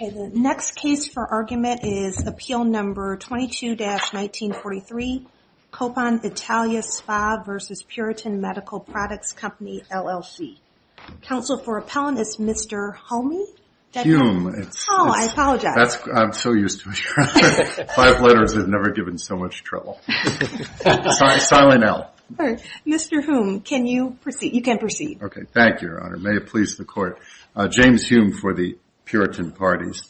The next case for argument is Appeal No. 22-1943, Copan Italia Spa v. Puritan Medical Products Company LLC. Counsel for Appellant is Mr. Hume. I'm so used to it. Five letters, I've never given so much trouble. Sorry, silent L. Mr. Hume, you can proceed. Thank you, Your Honor. May it please the Court. James Hume for the Puritan Parties.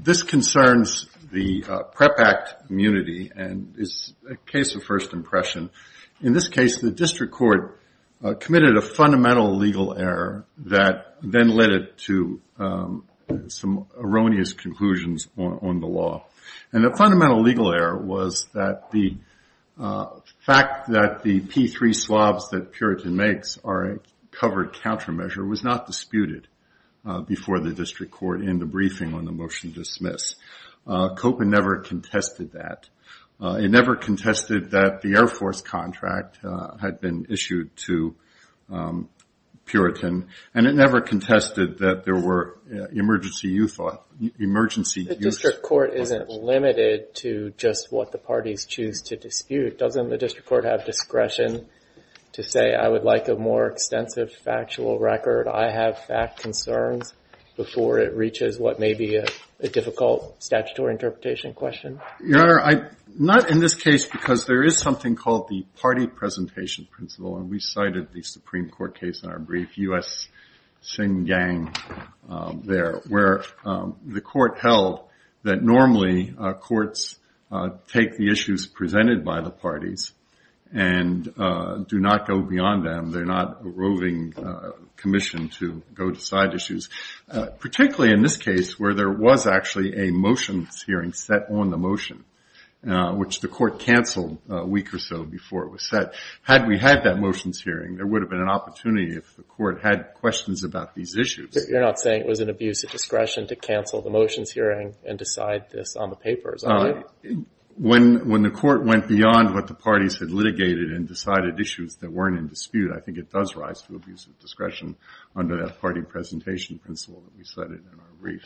This concerns the PrEP Act immunity and is a case of first impression. In this case, the district court committed a fundamental legal error that then led it to some erroneous conclusions on the law. And the fundamental legal error was that the fact that the P3 swabs that Puritan makes are a covered countermeasure was not disputed before the district court in the briefing on the motion to dismiss. Copan never contested that. It never contested that the Air Force contract had been issued to Puritan, and it never contested that there were emergency use... The district court isn't limited to just what the parties choose to dispute. Doesn't the district court have discretion to say, I would like a more extensive factual record, I have fact concerns, before it reaches what may be a difficult statutory interpretation question? Your Honor, not in this case, because there is something called the party presentation principle, and we cited the Supreme Court case in our brief, U.S. Shingang there, where the court held that normally courts take the issues presented by the parties and do not go beyond them. They're not a roving commission to go to side issues, particularly in this case, where there was actually a motions hearing set on the motion, which the court canceled a week or so before it was set. Had we had that motions hearing, there would have been an opportunity if the court had questions about these issues. You're not saying it was an abuse of discretion to cancel the motions hearing and decide this on the papers, are you? When the court went beyond what the parties had litigated and decided issues that weren't in dispute, I think it does rise to abuse of discretion under that party presentation principle that we cited in our brief.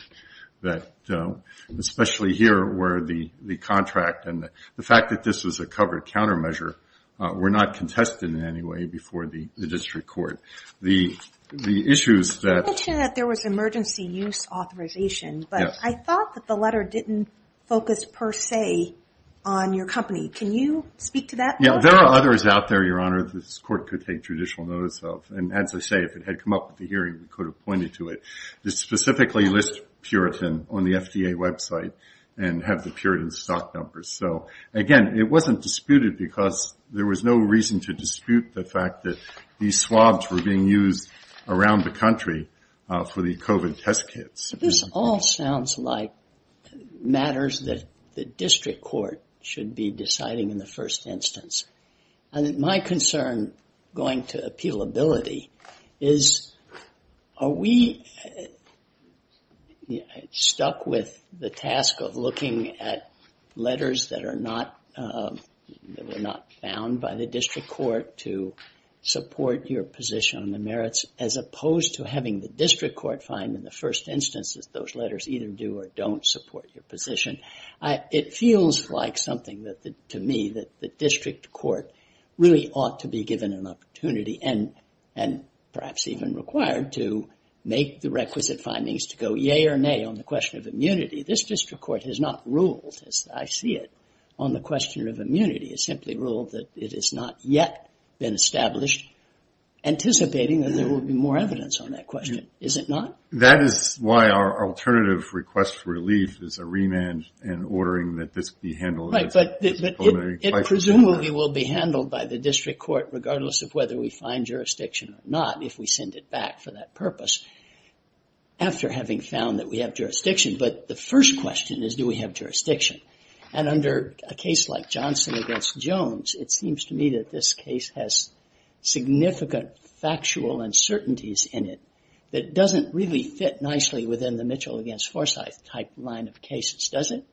Especially here, where the contract and the fact that this was a covered countermeasure were not contested in any way before the district court. I mentioned that there was emergency use authorization, but I thought that the letter didn't focus per se on your company. Can you speak to that? There are others out there, Your Honor, that this court could take judicial notice of. As I say, if it had come up at the hearing, we could have pointed to it. It specifically lists Puritan on the FDA website and has the Puritan stock numbers. Again, it wasn't disputed because there was no reason to dispute the fact that these swabs were being used around the country for the COVID test kits. This all sounds like matters that the district court should be deciding in the first instance. My concern, going to appealability, is are we stuck with the task of looking at letters that were not found by the district court to support your position on the merits, as opposed to having the district court find in the first instance that those letters either do or don't support your position. It feels like something to me that the district court really ought to be given an opportunity, and perhaps even required, to make the requisite findings to go yea or nay on the question of immunity. This district court has not ruled, as I see it, on the question of immunity. It simply ruled that it has not yet been established, anticipating that there will be more evidence on that question. Is it not? That is why our alternative request for relief is a remand and ordering that this be handled. Right, but it presumably will be handled by the district court, regardless of whether we find jurisdiction or not, if we send it back for that purpose, after having found that we have jurisdiction. But the first question is, do we have jurisdiction? And under a case like Johnson against Jones, it seems to me that this case has significant factual uncertainties in it that doesn't really fit nicely within the Mitchell against Forsyth type line of cases. Does it?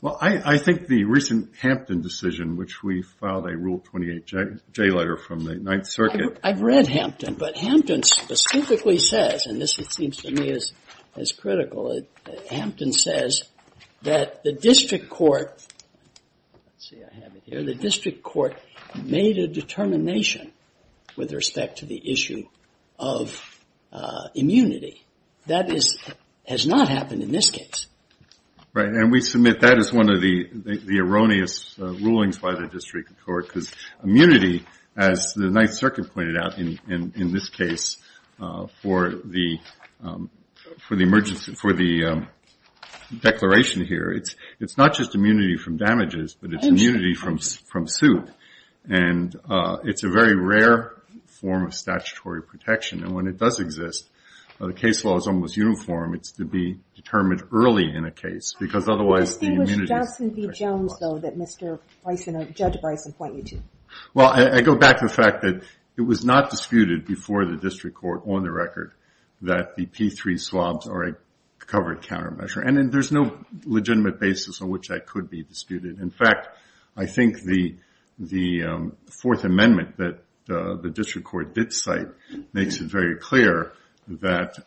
Well, I think the recent Hampton decision, which we filed a Rule 28J letter from the Ninth Circuit. I've read Hampton, but Hampton specifically says, and this seems to me as critical, Hampton says that the district court, let's see, I have it here, the district court made a determination with respect to the issue of immunity. That has not happened in this case. Right, and we submit that is one of the erroneous rulings by the district court, because immunity, as the Ninth Circuit pointed out in this case for the declaration here, it's not just immunity from damages, but it's immunity from suit. And it's a very rare form of statutory protection. And when it does exist, the case law is almost uniform. It's to be determined early in a case, because otherwise the immunity is questionable. It was Johnson v. Jones, though, that Mr. Bryson or Judge Bryson pointed to. Well, I go back to the fact that it was not disputed before the district court on the record that the P3 swabs are a covered countermeasure. And there's no legitimate basis on which that could be disputed. In fact, I think the Fourth Amendment that the district court did cite makes it very clear that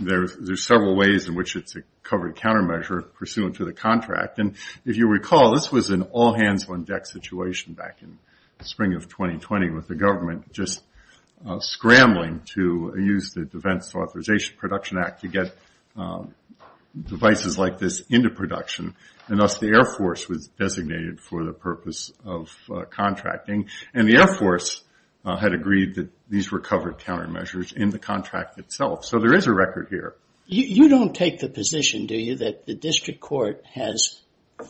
there's several ways in which it's a covered countermeasure pursuant to the contract. And if you recall, this was an all-hands-on-deck situation back in spring of 2020 with the government just scrambling to use the Defense Authorization Production Act to get devices like this into production. And thus the Air Force was designated for the purpose of contracting. And the Air Force had agreed that these were covered countermeasures in the contract itself. So there is a record here. You don't take the position, do you, that the district court has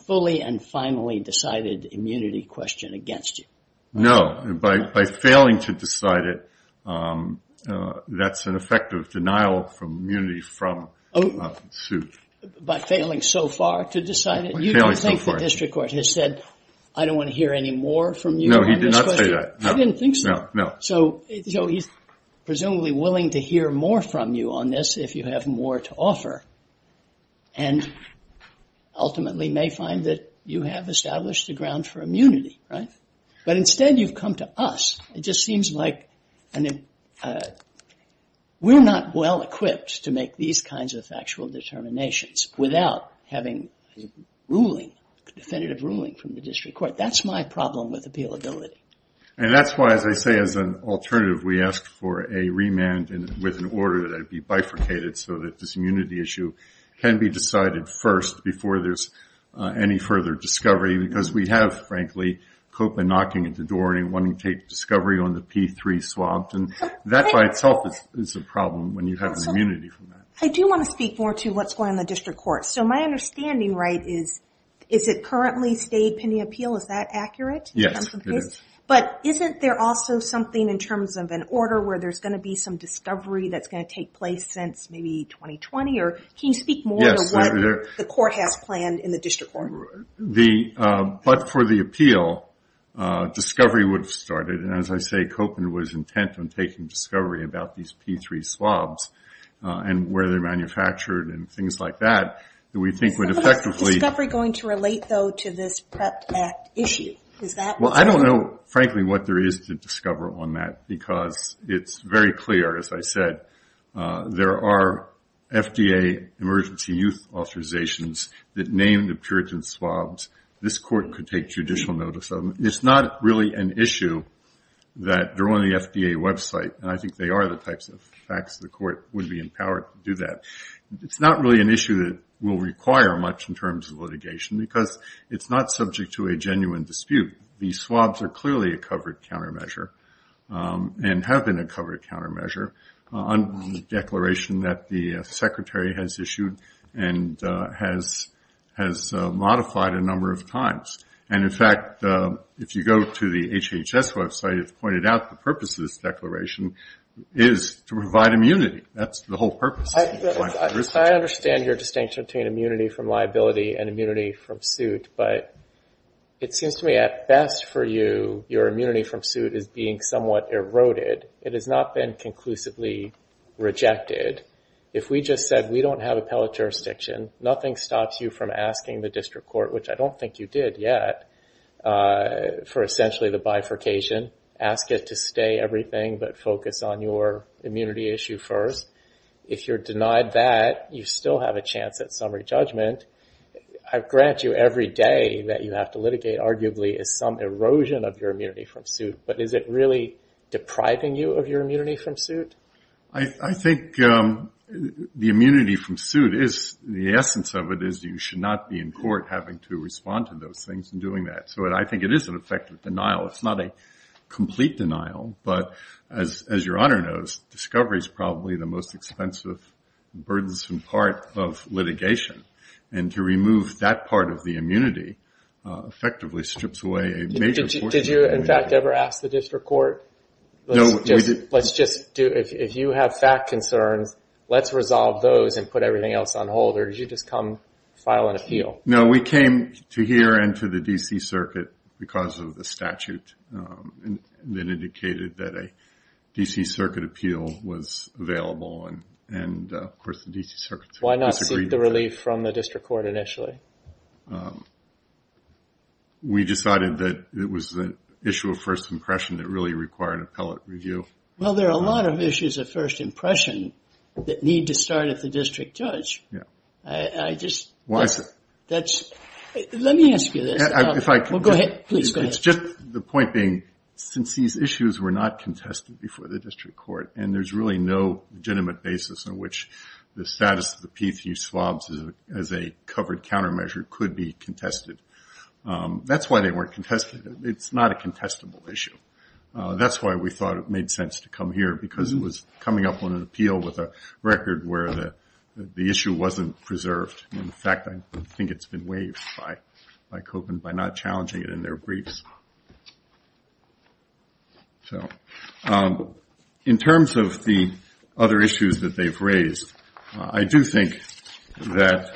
fully and finally decided immunity question against you? No. By failing to decide it, that's an effective denial of immunity from a suit. By failing so far to decide it? You don't think the district court has said, I don't want to hear any more from you on this question? No, he did not say that. I didn't think so. So he's presumably willing to hear more from you on this if you have more to offer and ultimately may find that you have established a ground for immunity, right? But instead you've come to us. It just seems like we're not well equipped to make these kinds of factual determinations without having a ruling, a definitive ruling from the district court. That's my problem with appealability. And that's why, as I say, as an alternative, we asked for a remand with an order that would be bifurcated so that this immunity issue can be decided first before there's any further discovery because we have, frankly, Copeland knocking at the door and wanting to take discovery on the P3 swabs. And that by itself is a problem when you have immunity from that. I do want to speak more to what's going on in the district court. So my understanding, right, is it currently state pending appeal? Is that accurate? Yes, it is. But isn't there also something in terms of an order where there's going to be some discovery that's going to take place since maybe 2020? Can you speak more to what the court has planned in the district court? But for the appeal, discovery would have started. And as I say, Copeland was intent on taking discovery about these P3 swabs and where they're manufactured and things like that that we think would effectively Is the discovery going to relate, though, to this PREPT Act issue? Well, I don't know, frankly, what there is to discover on that because it's very clear, as I said, that there are FDA emergency use authorizations that name the Puritan swabs. This court could take judicial notice of them. It's not really an issue that they're on the FDA website, and I think they are the types of facts the court would be empowered to do that. It's not really an issue that will require much in terms of litigation because it's not subject to a genuine dispute. These swabs are clearly a covered countermeasure and have been a covered countermeasure on the declaration that the secretary has issued and has modified a number of times. And, in fact, if you go to the HHS website, it's pointed out the purpose of this declaration is to provide immunity. That's the whole purpose. I understand your distinction between immunity from liability and immunity from suit, but it seems to me at best for you, your immunity from suit is being somewhat eroded. It has not been conclusively rejected. If we just said we don't have appellate jurisdiction, nothing stops you from asking the district court, which I don't think you did yet, for essentially the bifurcation. Ask it to stay everything but focus on your immunity issue first. If you're denied that, you still have a chance at summary judgment. I grant you every day that you have to litigate, arguably as some erosion of your immunity from suit, but is it really depriving you of your immunity from suit? I think the immunity from suit, the essence of it is you should not be in court having to respond to those things and doing that. So I think it is an effective denial. It's not a complete denial, but as your honor knows, discovery is probably the most expensive, burdensome part of litigation. And to remove that part of the immunity effectively strips away a major portion of your immunity. Did you in fact ever ask the district court, if you have fact concerns, let's resolve those and put everything else on hold, or did you just come file an appeal? No, we came to here and to the D.C. Circuit because of the statute that indicated that a D.C. Circuit appeal was available, and there was no relief from the district court initially. We decided that it was an issue of first impression that really required appellate review. Well, there are a lot of issues of first impression that need to start at the district judge. Let me ask you this. Please go ahead. It's just the point being, since these issues were not contested before the district court, and there's really no legitimate basis in which the status of the P3 swabs as a covered countermeasure could be contested. That's why they weren't contested. It's not a contestable issue. That's why we thought it made sense to come here, because it was coming up on an appeal with a record where the issue wasn't preserved. In fact, I think it's been waived by COPA by not challenging it in their briefs. In terms of the other issues that they've raised, I do think that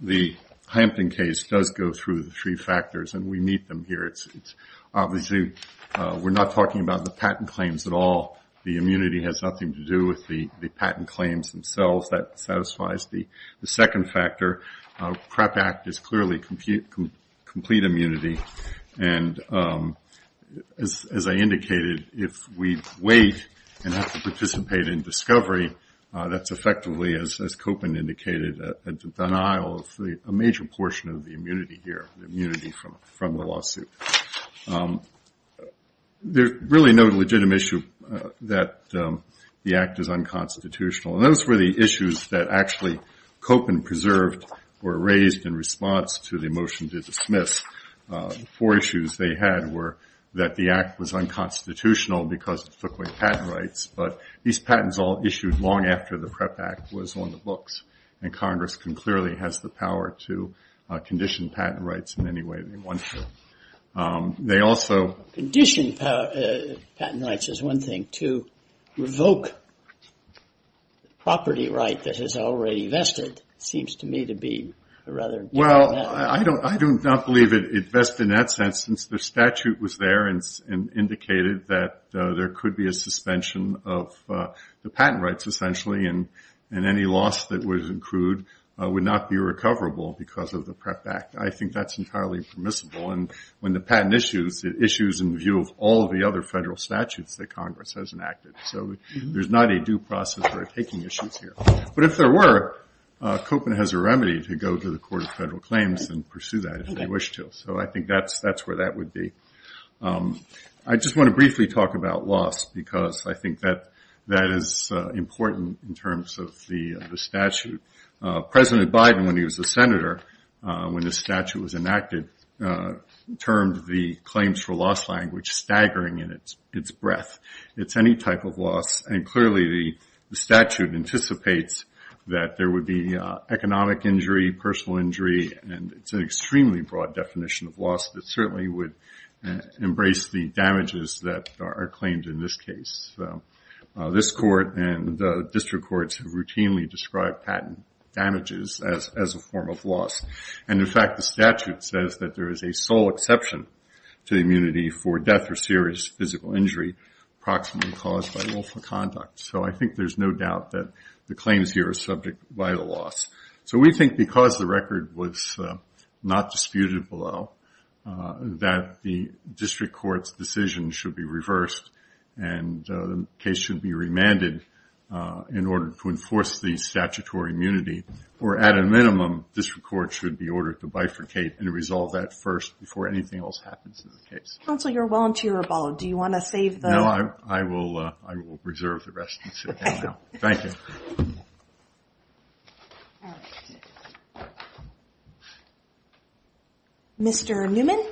the Hampton case does go through the three factors, and we meet them here. Obviously, we're not talking about the patent claims at all. The immunity has nothing to do with the patent claims themselves. That satisfies the second factor. PREP Act is clearly complete immunity, and as I indicated, if we wait and have to participate in discovery, that's effectively, as Copan indicated, a denial of a major portion of the immunity here, the immunity from the lawsuit. There's really no legitimate issue that the Act is unconstitutional, and those were the issues that actually Copan preserved or raised in response to the motion to dismiss Four issues they had were that the Act was unconstitutional because it took away patent rights, but these patents all issued long after the PREP Act was on the books, and Congress clearly has the power to condition patent rights in any way they want to. They also... Condition patent rights is one thing. To revoke the property right that is already vested seems to me to be rather... Well, I do not believe it vested in that sense since the statute was there and indicated that there could be a suspension of the patent rights, essentially, and any loss that was accrued would not be recoverable because of the PREP Act. I think that's entirely permissible, and when the patent issues, it issues in view of all of the other federal statutes that Congress has enacted, so there's not a due process for taking issues here. But if there were, COPA has a remedy to go to the Court of Federal Claims and pursue that if they wish to, so I think that's where that would be. I just want to briefly talk about loss because I think that is important in terms of the statute. President Biden, when he was a senator, when this statute was enacted, termed the claims for loss language staggering in its breadth. It's any type of loss, and clearly the statute anticipates that there would be economic injury, personal injury, and it's an extremely broad definition of loss that certainly would embrace the damages that are claimed in this case. This court and the district courts have routinely described patent damages as a form of loss, and in fact the statute says that there is a sole exception to immunity for death or serious physical injury approximately caused by lawful conduct. So I think there's no doubt that the claims here are subject to vital loss. So we think because the record was not disputed below, that the district court's decision should be reversed and the case should be remanded in order to enforce the statutory immunity, or at a minimum, district courts should be ordered to bifurcate and resolve that first before anything else happens in the case. Counsel, you're a volunteer abode. Do you want to save the... No, I will preserve the rest and sit down now. Thank you. Mr. Newman?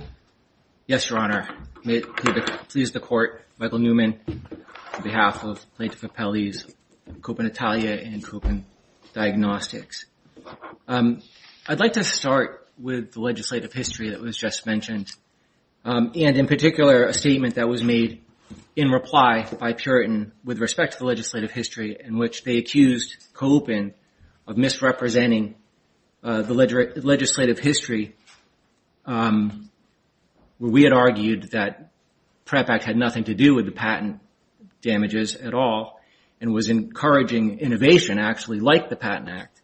Yes, Your Honor. May it please the Court, Michael Newman on behalf of Plaintiff Appellees Copen Italia and Copen Diagnostics. I'd like to start with the legislative history that was just mentioned, and in particular a statement that was made in reply by Puritan with respect to the legislative history in which they accused Copen of misrepresenting the legislative history where we had argued that PREP Act had nothing to do with the patent damages at all and was encouraging innovation actually like the Patent Act.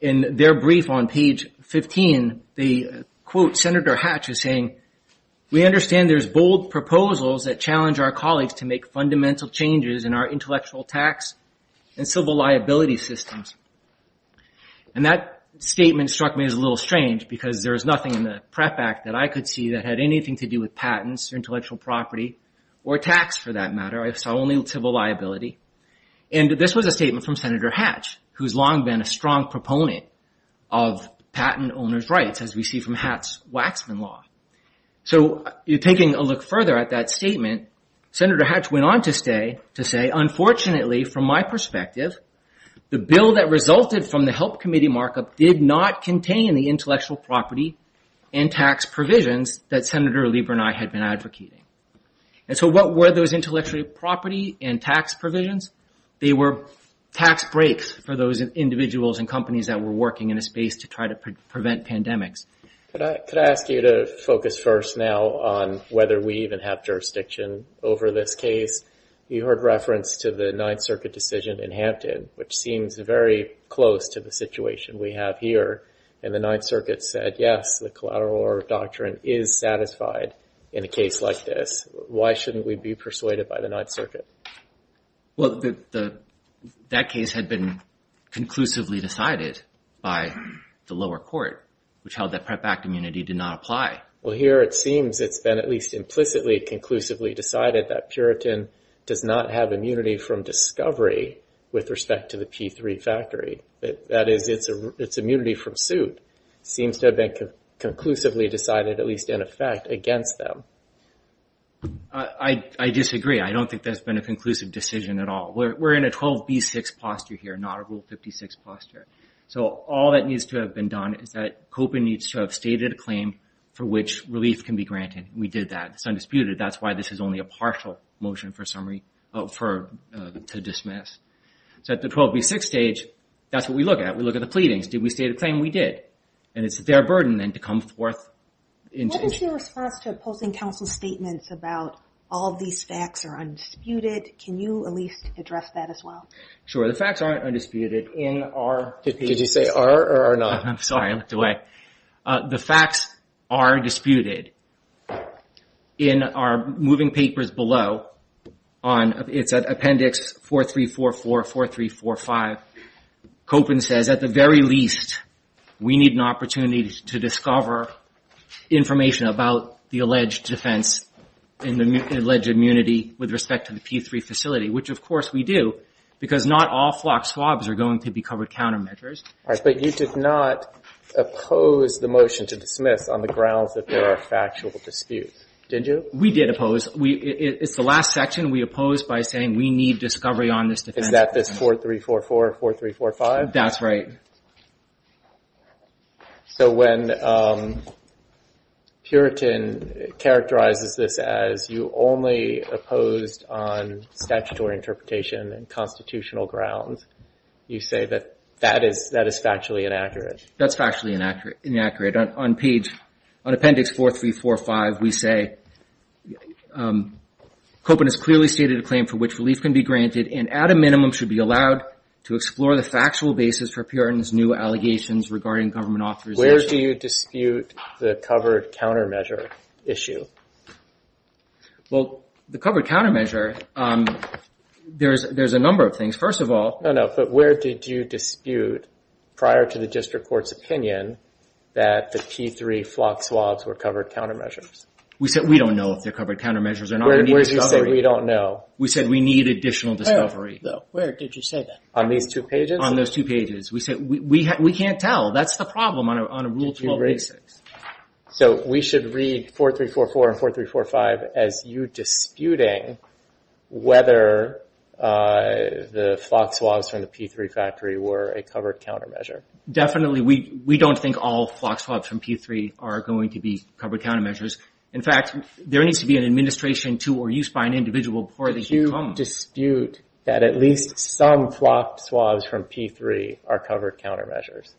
In their brief on page 15, they quote Senator Hatch as saying, And that statement struck me as a little strange because there was nothing in the PREP Act that I could see that had anything to do with patents or intellectual property or tax for that matter. I saw only civil liability. And this was a statement from Senator Hatch who's long been a strong proponent of patent owner's rights as we see from Hatch's Waxman Law. So taking a look further at that statement Senator Hatch went on to say And so what were those intellectual property and tax provisions? They were tax breaks for those individuals and companies that were working in a space to try to prevent pandemics. Well, that case had been conclusively decided by the lower court which held that PREP Act immunity did not apply. Well, here it seems it's been at least implicitly, conclusively decided that Puritan does not have immunity from discovery with respect to the P3 factory. That is, it's immunity from suit seems to have been conclusively decided, at least in effect, against them. I disagree. I don't think that's been a conclusive decision at all. We're in a 12B6 posture here, not a Rule 56 posture. So all that needs to have been done is that COPA needs to have stated a claim for which relief can be granted. We did that. It's undisputed. That's why this is only a partial motion for summary to dismiss. So at the 12B6 stage that's what we look at. We look at the pleadings. Did we state a claim? We did. And it's their burden then to come forth What is your response to opposing counsel's statements about all these facts are undisputed? Can you at least address that as well? Sure, the facts aren't undisputed Did you say R or R not? I'm sorry, I looked away. The facts are disputed. In our moving papers below, it's at appendix 4344, 4345 Kopin says, at the very least, we need an opportunity to discover information about the alleged defense and alleged immunity with respect to the P3 facility, which of course we do, because not all flock swabs are going to be covered countermeasures. But you did not oppose the motion to dismiss on the grounds that there are factual disputes, did you? We did oppose. It's the last section we opposed by saying we need discovery on this defense. Is that this 4344, 4345? That's right. So when Puritan characterizes this as you only opposed on statutory interpretation and constitutional grounds, you say that that is factually inaccurate? That's factually inaccurate. On appendix 4345 we say Kopin has clearly stated a claim for which relief can be granted and at a minimum should be allowed to explore the factual basis for Puritan's new allegations regarding government authorization. Where do you dispute the covered countermeasure issue? Well, the covered countermeasure, there's a number of things. First of all... No, no. But where did you dispute prior to the district court's opinion that the P3 flock swabs were covered countermeasures? We said we don't know if they're covered countermeasures or not. Where did you say we don't know? We said we need additional discovery. Where did you say that? On these two pages? On those two pages. We said we can't tell. That's the problem on a So we should read 4344 and 4345 as you disputing whether the flock swabs from the P3 factory were a covered countermeasure. Definitely. We don't think all flock swabs from P3 are going to be covered countermeasures. In fact, there needs to be an administration to or use by an individual before they become... Do you dispute that at least some flock swabs from P3 are covered countermeasures?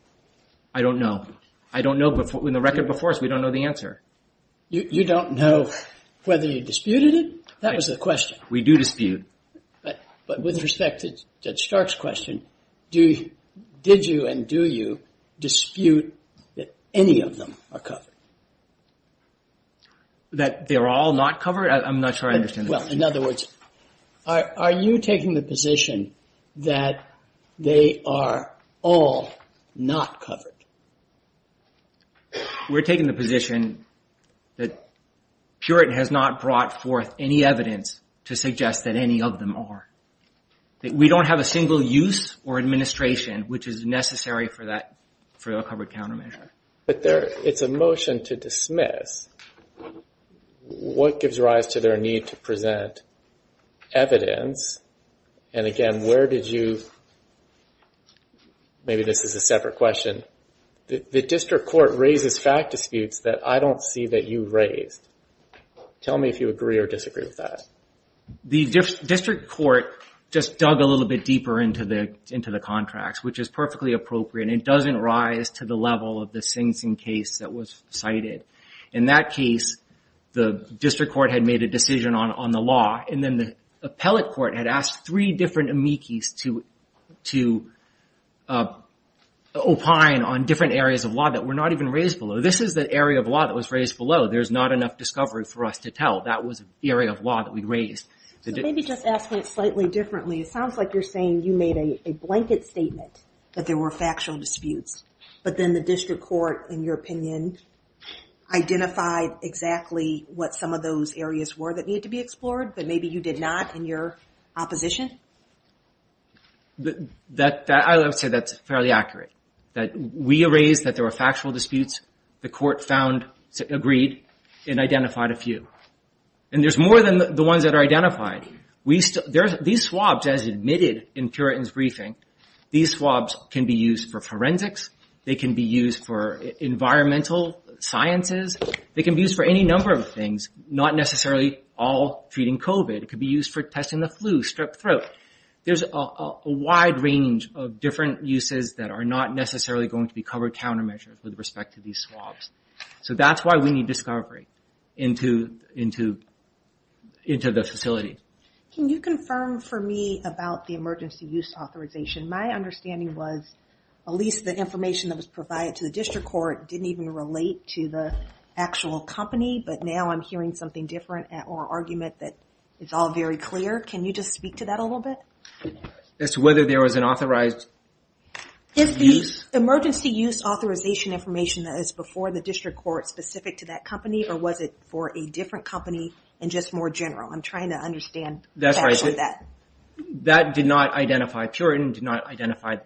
I don't know. In the record before us, we don't know the answer. You don't know whether you disputed it? That was the question. We do dispute. But with respect to Judge Stark's question, did you and do you dispute that any of them are covered? That they're all not covered? I'm not sure I understand that. Well, in other words, are you taking the position that they are all not covered? We're taking the position that Puritan has not brought forth any evidence to suggest that any of them are. We don't have a single use or administration which is necessary for a covered countermeasure. But it's a motion to dismiss what gives rise to their need to present evidence and again, where did you... Maybe this is a separate question. The district court raises fact disputes that I don't see that you raised. Tell me if you agree or disagree with that. The district court just dug a little bit deeper into the contracts which is perfectly appropriate. It doesn't rise to the level of the Sing Sing case that was cited. In that case, the district court had made a decision on the law and then the appellate court had asked three different amici to opine on different areas of law that were not even raised below. This is the area of law that was raised below. There's not enough discovery for us to tell. That was the area of law that we raised. Maybe just ask it slightly differently. It sounds like you're saying you made a blanket statement that there were factual disputes. But then the district court in your opinion, identified exactly what some of those areas were that needed to be explored but maybe you did not in your opposition? I would say that's fairly accurate. We raised that there were factual disputes. The court found, agreed and identified a few. And there's more than the ones that are identified. These swabs as admitted in Puritan's briefing, these swabs can be used for forensics. They can be used for any number of things. Not necessarily all treating COVID. It could be used for testing the flu, strep throat. There's a wide range of different uses that are not necessarily going to be covered countermeasures with respect to these swabs. So that's why we need discovery into the facility. Can you confirm for me about the emergency use authorization? My understanding was at least the information that was provided to the district court didn't even relate to the actual company. But now I'm hearing something different or argument that is all very clear. Can you just speak to that a little bit? As to whether there was an authorized use? Is the emergency use authorization information that is before the district court specific to that company? Or was it for a different company and just more general? I'm trying to understand. That's right. That did not identify Puritan. Did not identify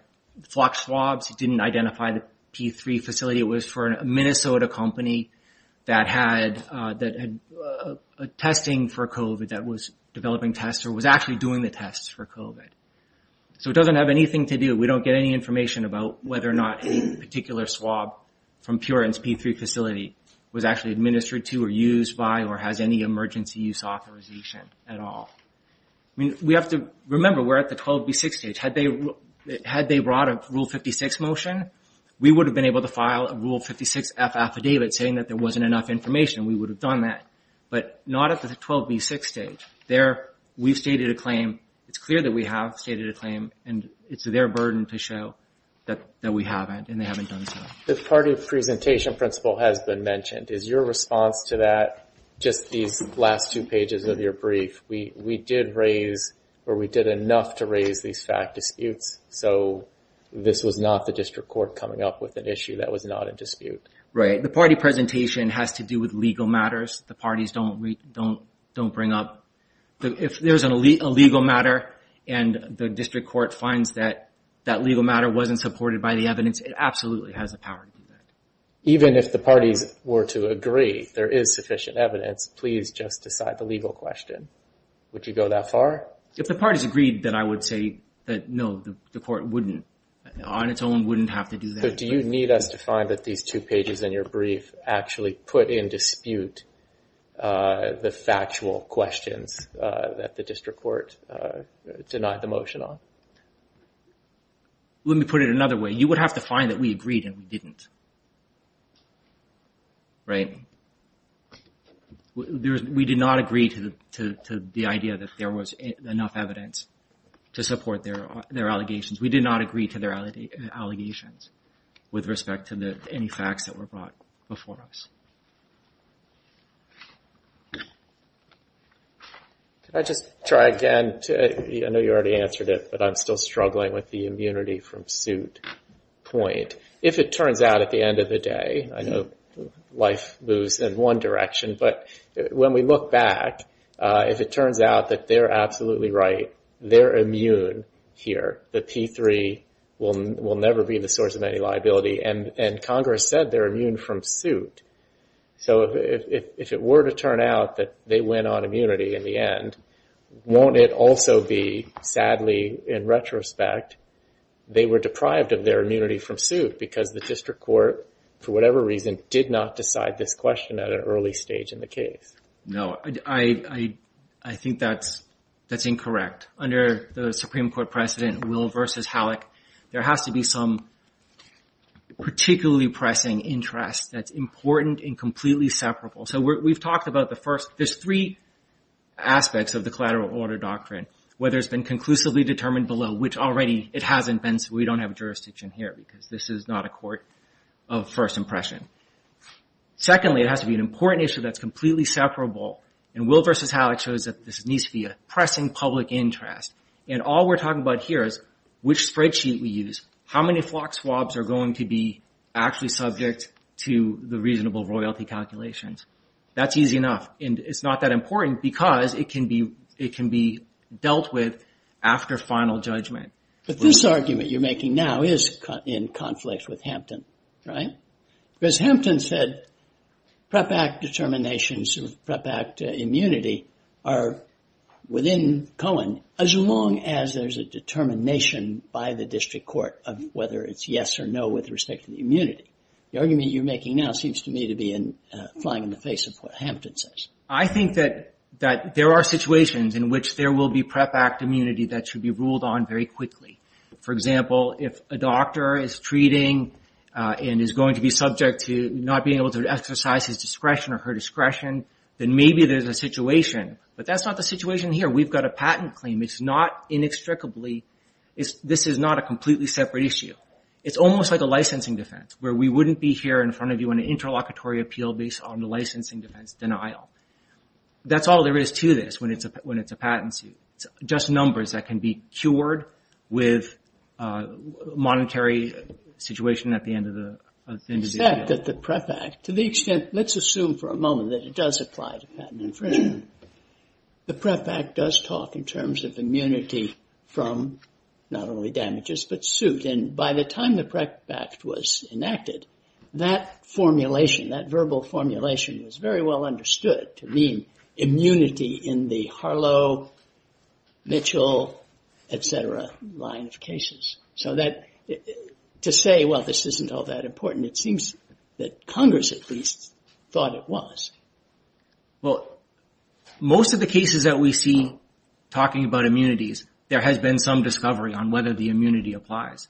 Phlox swabs. It didn't identify the P3 facility. It was for a Minnesota company that had testing for COVID that was developing tests or was actually doing the tests for COVID. So it doesn't have anything to do. We don't get any information about whether or not any particular swab from Puritan's P3 facility was actually administered to or used by or has any emergency use authorization at all. We have to state a claim. If they brought a Rule 56 motion, we would have been able to file a Rule 56F affidavit saying that there wasn't enough information. We would have done that. But not at the 12B6 stage. We've stated a claim. It's clear that we have stated a claim. It's their burden to show that we haven't and they haven't done so. The party presentation principle has been mentioned. Is your response to that just these last two pages of your brief? We did raise or we did enough to raise these fact disputes. So this was not the district court coming up with an issue that was not a dispute. Right. The party presentation has to do with legal matters. The parties don't bring up if there's a legal matter and the district court finds that that legal matter wasn't supported by the evidence, it absolutely has the power to do that. Even if the parties were to agree there is sufficient evidence, please just decide the legal question. Would you go that far? If the parties agreed, then I would say that no, the court wouldn't. On its own wouldn't have to do that. Do you need us to find that these two pages in your brief actually put in dispute the factual questions that the district court denied the motion on? Let me put it another way. You would have to find that we agreed and we didn't. Right. We did not agree to the idea that there was enough evidence to support their allegations. We did not agree to their allegations with respect to any facts that were brought before us. Can I just try again? I know you already answered it but I'm still struggling with the immunity from suit point. If it turns out at the end of the day, I know life moves in one direction, but when we look back, if it turns out that they're absolutely right, they're immune here, the P3 will never be the source of any liability. Congress said they're immune from suit. If it were to turn out that they went on immunity in the end, won't it also be, sadly, in retrospect, they were deprived of their immunity from suit because the district court, for whatever reason, did not decide this question at an early stage in the case? No, I think that's incorrect. Under the Supreme Court precedent, Will v. Halleck, there has to be some particularly pressing interest that's important and completely separable. There's three aspects of the collateral order doctrine, whether it's been conclusively determined below, which already it hasn't been, so we don't have jurisdiction here because this is not a court of first impression. Secondly, it has to be an important issue that's completely separable. Will v. Halleck shows that this needs to be a pressing public interest. All we're talking about here is which spreadsheet we use, how many flock swabs are going to be actually subject to the reasonable royalty calculations. That's enough. It's not that important because it can be dealt with after final judgment. But this argument you're making now is in conflict with Hampton, right? Because Hampton said PREP Act determinations of PREP Act immunity are within Cohen as long as there's a determination by the district court of whether it's yes or no with respect to the immunity. The argument you're making now seems to me to be flying in the face of what Hampton says. I think that there are situations in which there will be PREP Act immunity that should be ruled on very quickly. For example, if a doctor is treating and is going to be subject to not being able to exercise his discretion or her discretion, then maybe there's a situation. But that's not the situation here. We've got a patent claim. It's not inextricably this is not a completely separate issue. It's almost like a licensing defense where we wouldn't be here in front of you on an interlocutory appeal based on the licensing defense denial. That's all there is to this when it's a patent suit. Just numbers that can be cured with monetary situation at the end of the appeal. Except that the PREP Act, to the extent let's assume for a moment that it does apply to patent infringement. The PREP Act does talk in terms of immunity from not only damages but suit. And by the time the PREP Act was enacted, that formulation, that verbal formulation was very well understood to mean immunity in the Harlow, Mitchell, et cetera line of cases. So to say, well, this isn't all that important, it seems that Congress at least thought it was. Well, most of the cases that we see talking about immunities, there has been some discovery on whether the immunity applies.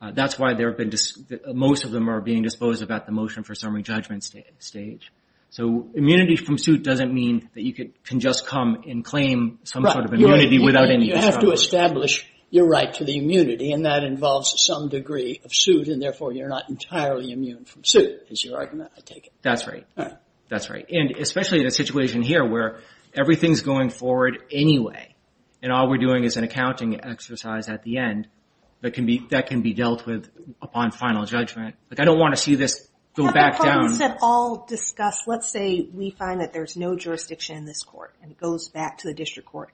That's why most of them are being disposed of at the motion for summary judgment stage. So immunity from suit doesn't mean that you can just come and claim some sort of immunity without any discovery. You have to establish your right to the immunity and that involves some degree of suit and therefore you're not entirely immune from suit, is your argument, I take it. That's right. And especially in a situation here where everything's going forward anyway and all we're doing is an accounting exercise at the end that can be dealt with upon final judgment. I don't want to see this go back down. Let's say we find that there's no jurisdiction in this court and it goes back to the district court.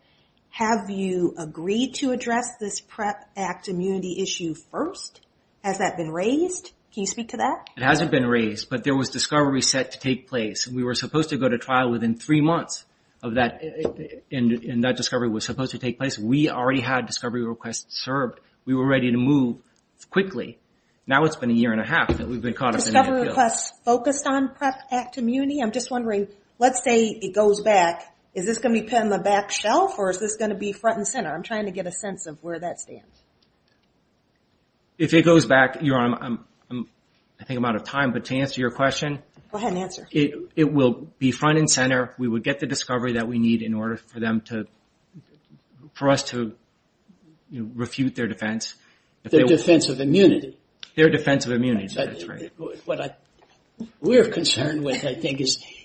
Have you agreed to address this PREP Act immunity issue first? Has that been raised? Can you speak to that? It hasn't been raised but there was discovery set to take place and we were supposed to go to trial within three months and that discovery was supposed to take place. We already had discovery requests served. We were ready to move quickly. Now it's been a year and a half that we've been caught up in the appeal. Discovery requests focused on PREP Act immunity? I'm just wondering, let's say it goes back. Is this going to be put on the back shelf or is this going to be front and center? I'm trying to get a sense of where that stands. If it goes back, Your Honor, I think I'm out of time but to answer your question, it will be front and center. We would get the discovery that we need in order for them to for us to refute their defense. Their defense of immunity? Their defense of immunity, that's right. We're concerned with, I think,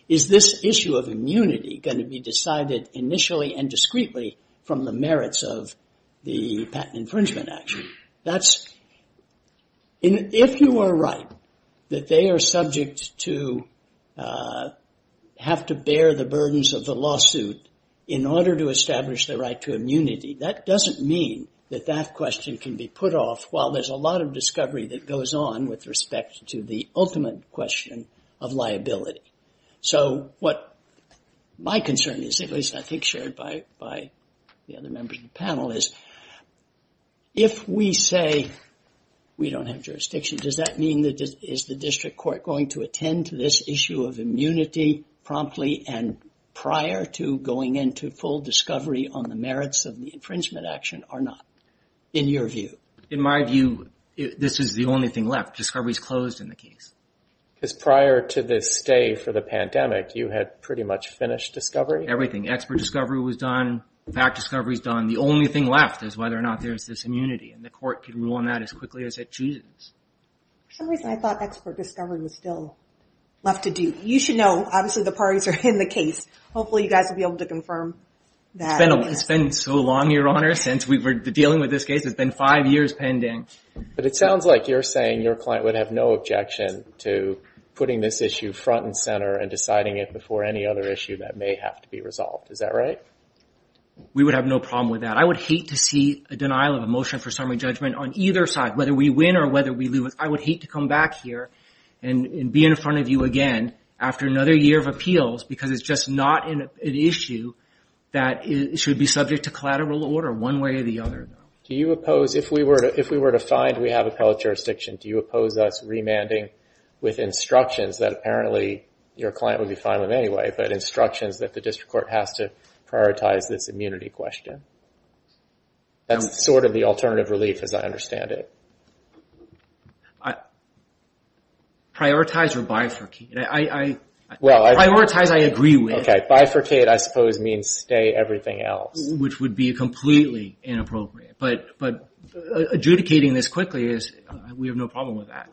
is this issue of immunity going to be decided initially and discreetly from the merits of the patent infringement action? If you are right that they are subject to have to bear the burdens of the lawsuit in order to establish their right to immunity, that doesn't mean that that question can be put off while there's a lot of discovery that goes on with respect to the ultimate question of liability. So what my concern is, at least I think shared by the other members of the panel, is if we say we don't have jurisdiction, does that mean that is the district court going to attend to this issue of immunity promptly and prior to going into full discovery on the merits of the infringement action or not, in your view? In my view, this is the only thing left. Discovery is closed in the case. Because prior to this stay for the pandemic, you had pretty much finished discovery? Everything. Expert discovery was done. Fact discovery is done. The only thing left is whether or not there's this immunity. And the court can rule on that as quickly as it chooses. For some reason I thought expert discovery was still left to do. You should know, obviously the parties are in the case. Hopefully you guys will be able to confirm that. It's been so long, Your Honor, since we were dealing with this case. It's been five years pending. But it sounds like you're saying your client would have no objection to putting this issue front and center and deciding it before any other issue that may have to be resolved. Is that right? We would have no problem with that. I would hate to see a denial of a motion for summary judgment on either side, whether we win or whether we lose. I would hate to come back here and be in front of you again after another year of appeals because it's just not an issue that should be subject to collateral order one way or the other. Do you oppose, if we were to find we have an appellate jurisdiction, do you oppose us remanding with instructions that apparently your client would be fine with anyway, but instructions that the district court has to prioritize this immunity question? That's sort of the alternative relief as I understand it. Prioritize or bifurcate? Prioritize I agree with. Bifurcate I suppose means stay everything else. Which would be completely inappropriate. But adjudicating this quickly is we have no problem with that.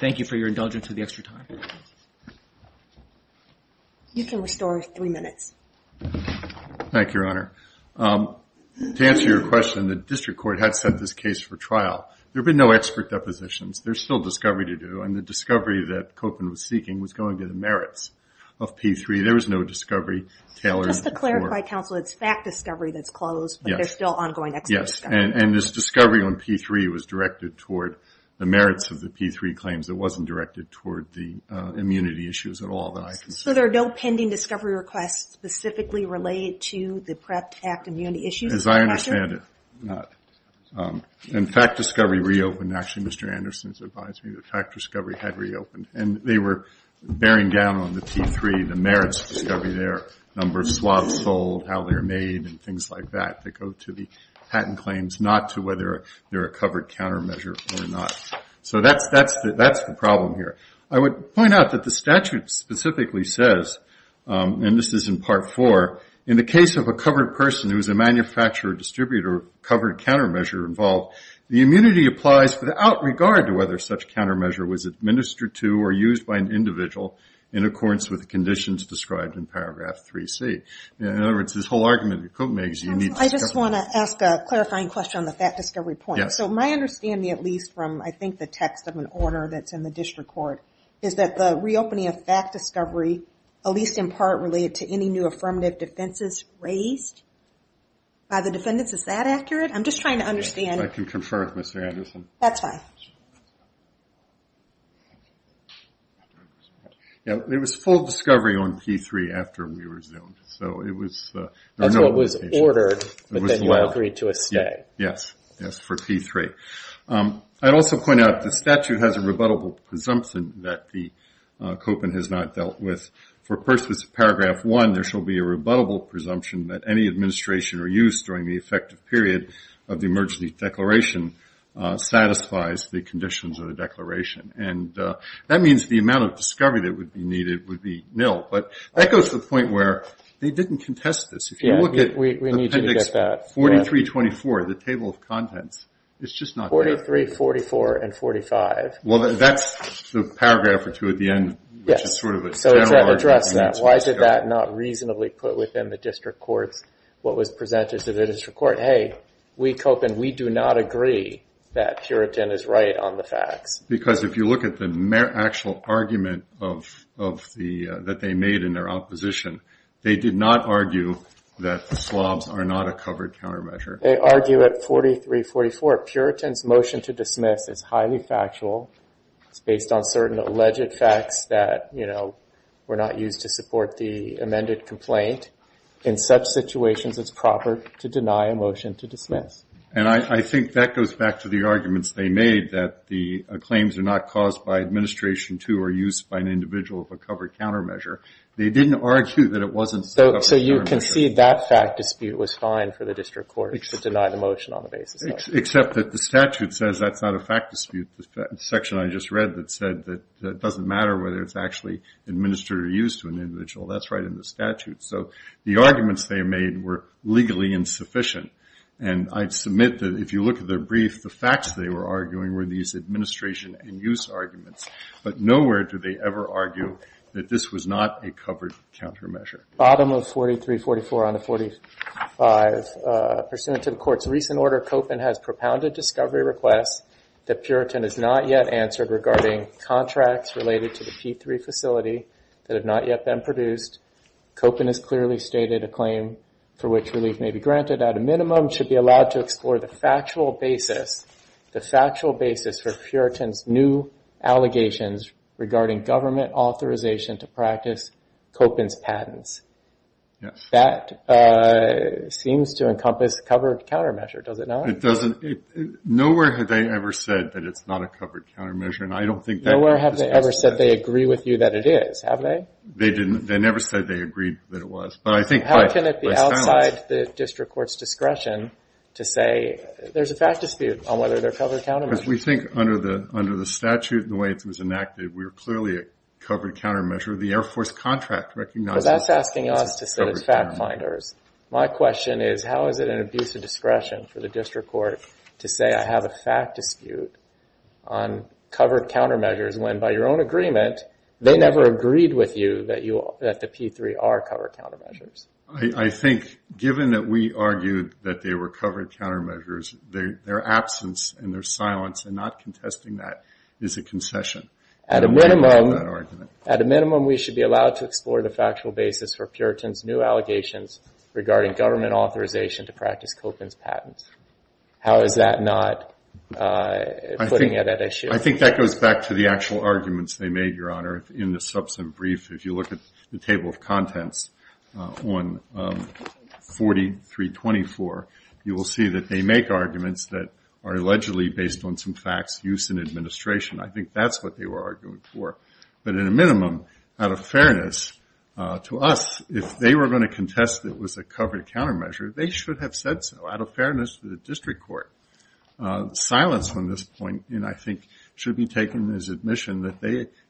Thank you for your indulgence of the extra time. You can restore three minutes. Thank you, Your Honor. To answer your question, the district court had set this case for trial. There have been no expert depositions. There's still discovery to do and the discovery that Copin was seeking was going to the merits of P3. There was no discovery Just to clarify, counsel, it's fact discovery that's closed but there's still ongoing expert discovery. And this discovery on P3 was directed toward the merits of the P3 claims. It wasn't directed toward the immunity issues at all. So there are no pending discovery requests specifically related to the PREP Act immunity issues? As I understand it, not. And fact discovery reopened. Actually, Mr. Anderson advised me that fact discovery had reopened. And they were down on the P3, the merits of discovery there, number of swabs sold, how they're made, and things like that that go to the patent claims, not to whether they're a covered countermeasure or not. So that's the problem here. I would point out that the statute specifically says, and this is in Part 4, in the case of a covered person who is a manufacturer or distributor covered countermeasure involved, the immunity applies without regard to whether such countermeasure was administered to or used by an individual in accordance with the conditions described in Paragraph 3C. In other words, this whole argument that Cook makes, you need... I just want to ask a clarifying question on the fact discovery point. So my understanding, at least from I think the text of an order that's in the district court, is that the reopening of fact discovery at least in part related to any new affirmative defenses raised by the defendants? Is that accurate? I'm just trying to understand... I can confirm with Mr. Anderson. That's fine. Yeah, there was full discovery on P3 after we resumed. So it was... That's what was ordered but then you agreed to a stay. Yes. Yes, for P3. I'd also point out the statute has a rebuttable presumption that the Copen has not dealt with. For purposes of Paragraph 1 there shall be a rebuttable presumption that any administration or use during the effective period of the emergency declaration satisfies the conditions of the declaration. And that means the amount of discovery that would be needed would be nil. But that goes to the point where they didn't contest this. If you look at Appendix 43-24, the Table of Contents, it's just not there. 43, 44, and 45. Well, that's the paragraph or two at the end which is sort of a general argument. So it's not addressing that. Why did that not reasonably put within the district court what was presented to the district court? Hey, we Copen, we do not agree that Puritan is right on the facts. Because if you look at the actual argument that they made in their opposition, they did not argue that the SLOBs are not a covered countermeasure. They argue at 43-44. Puritan's motion to dismiss is highly factual. It's based on certain alleged facts that were not used to support the amended complaint. In such situations, it's proper to deny a motion to dismiss. And I think that goes back to the arguments they made that the claims are not caused by administration to or used by an individual of a covered countermeasure. They didn't argue that it wasn't set up as a countermeasure. So you concede that fact dispute was fine for the district court to deny the motion on the basis of? Except that the statute says that's not a fact dispute. The section I just read that said that it doesn't matter whether it's actually administered or used to an individual. That's right in the statute. So the arguments they made were legally insufficient. And I submit that if you look at their brief, the facts they were arguing were these administration and use arguments. But nowhere do they ever argue that this was not a covered countermeasure. Bottom of 43-44 onto 45. Pursuant to the court's recent order, Koppen has propounded discovery requests that Puritan has not yet answered regarding contracts related to the P3 facility that have not yet been produced. Koppen has clearly stated a claim for which relief may be granted at a minimum should be allowed to explore the factual basis, the factual basis for Puritan's new allegations regarding government authorization to practice Koppen's patents. That seems to encompass covered countermeasure, does it not? It doesn't. Nowhere have they ever said that it's not a covered countermeasure. And I don't think that... Nowhere have they ever said they agree with you that it is, have they? They didn't. They never said they agreed that it was. But I think... How can it be outside the district court's discretion to say there's a fact dispute on whether they're covered countermeasures? Because we think under the statute and the way it was enacted, we're clearly a covered countermeasure. The Air Force contract recognizes... So that's asking us to sit as fact finders. My question is how is it an abuse of discretion for the district court to say I have a fact dispute on covered countermeasures when by your own agreement they never agreed with you that the P3 are covered countermeasures? I think given that we argued that they were covered countermeasures, their absence and their silence and not contesting that is a concession. At a minimum... basis for Puritan's new allegations regarding government authorization to practice Copin's patents. How is that not putting it at issue? I think that goes back to the actual arguments they made, Your Honor, in the substantive brief. If you look at the table of contents on 4324, you will see that they make arguments that are allegedly based on some facts used in administration. I think that's what they were arguing for. But at a minimum, out of fairness, to us, if they were going to contest that it was a covered countermeasure, they should have said so. Out of fairness to the district court, silence on this point I think should be taken as admission that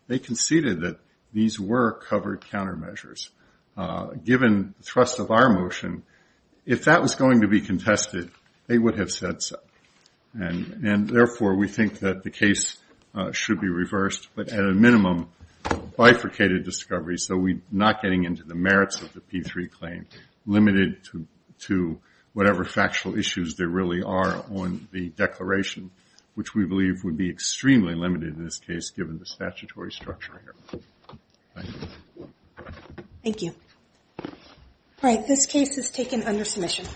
they conceded that these were covered countermeasures. Given the thrust of our motion, if that was going to be contested, they would have said so. And therefore we think that the case should be reversed, but at a minimum bifurcated discovery, so we're not getting into the merits of the P3 claim, limited to whatever factual issues there really are on the declaration, which we believe would be extremely limited in this case given the statutory structure here. Thank you. Thank you.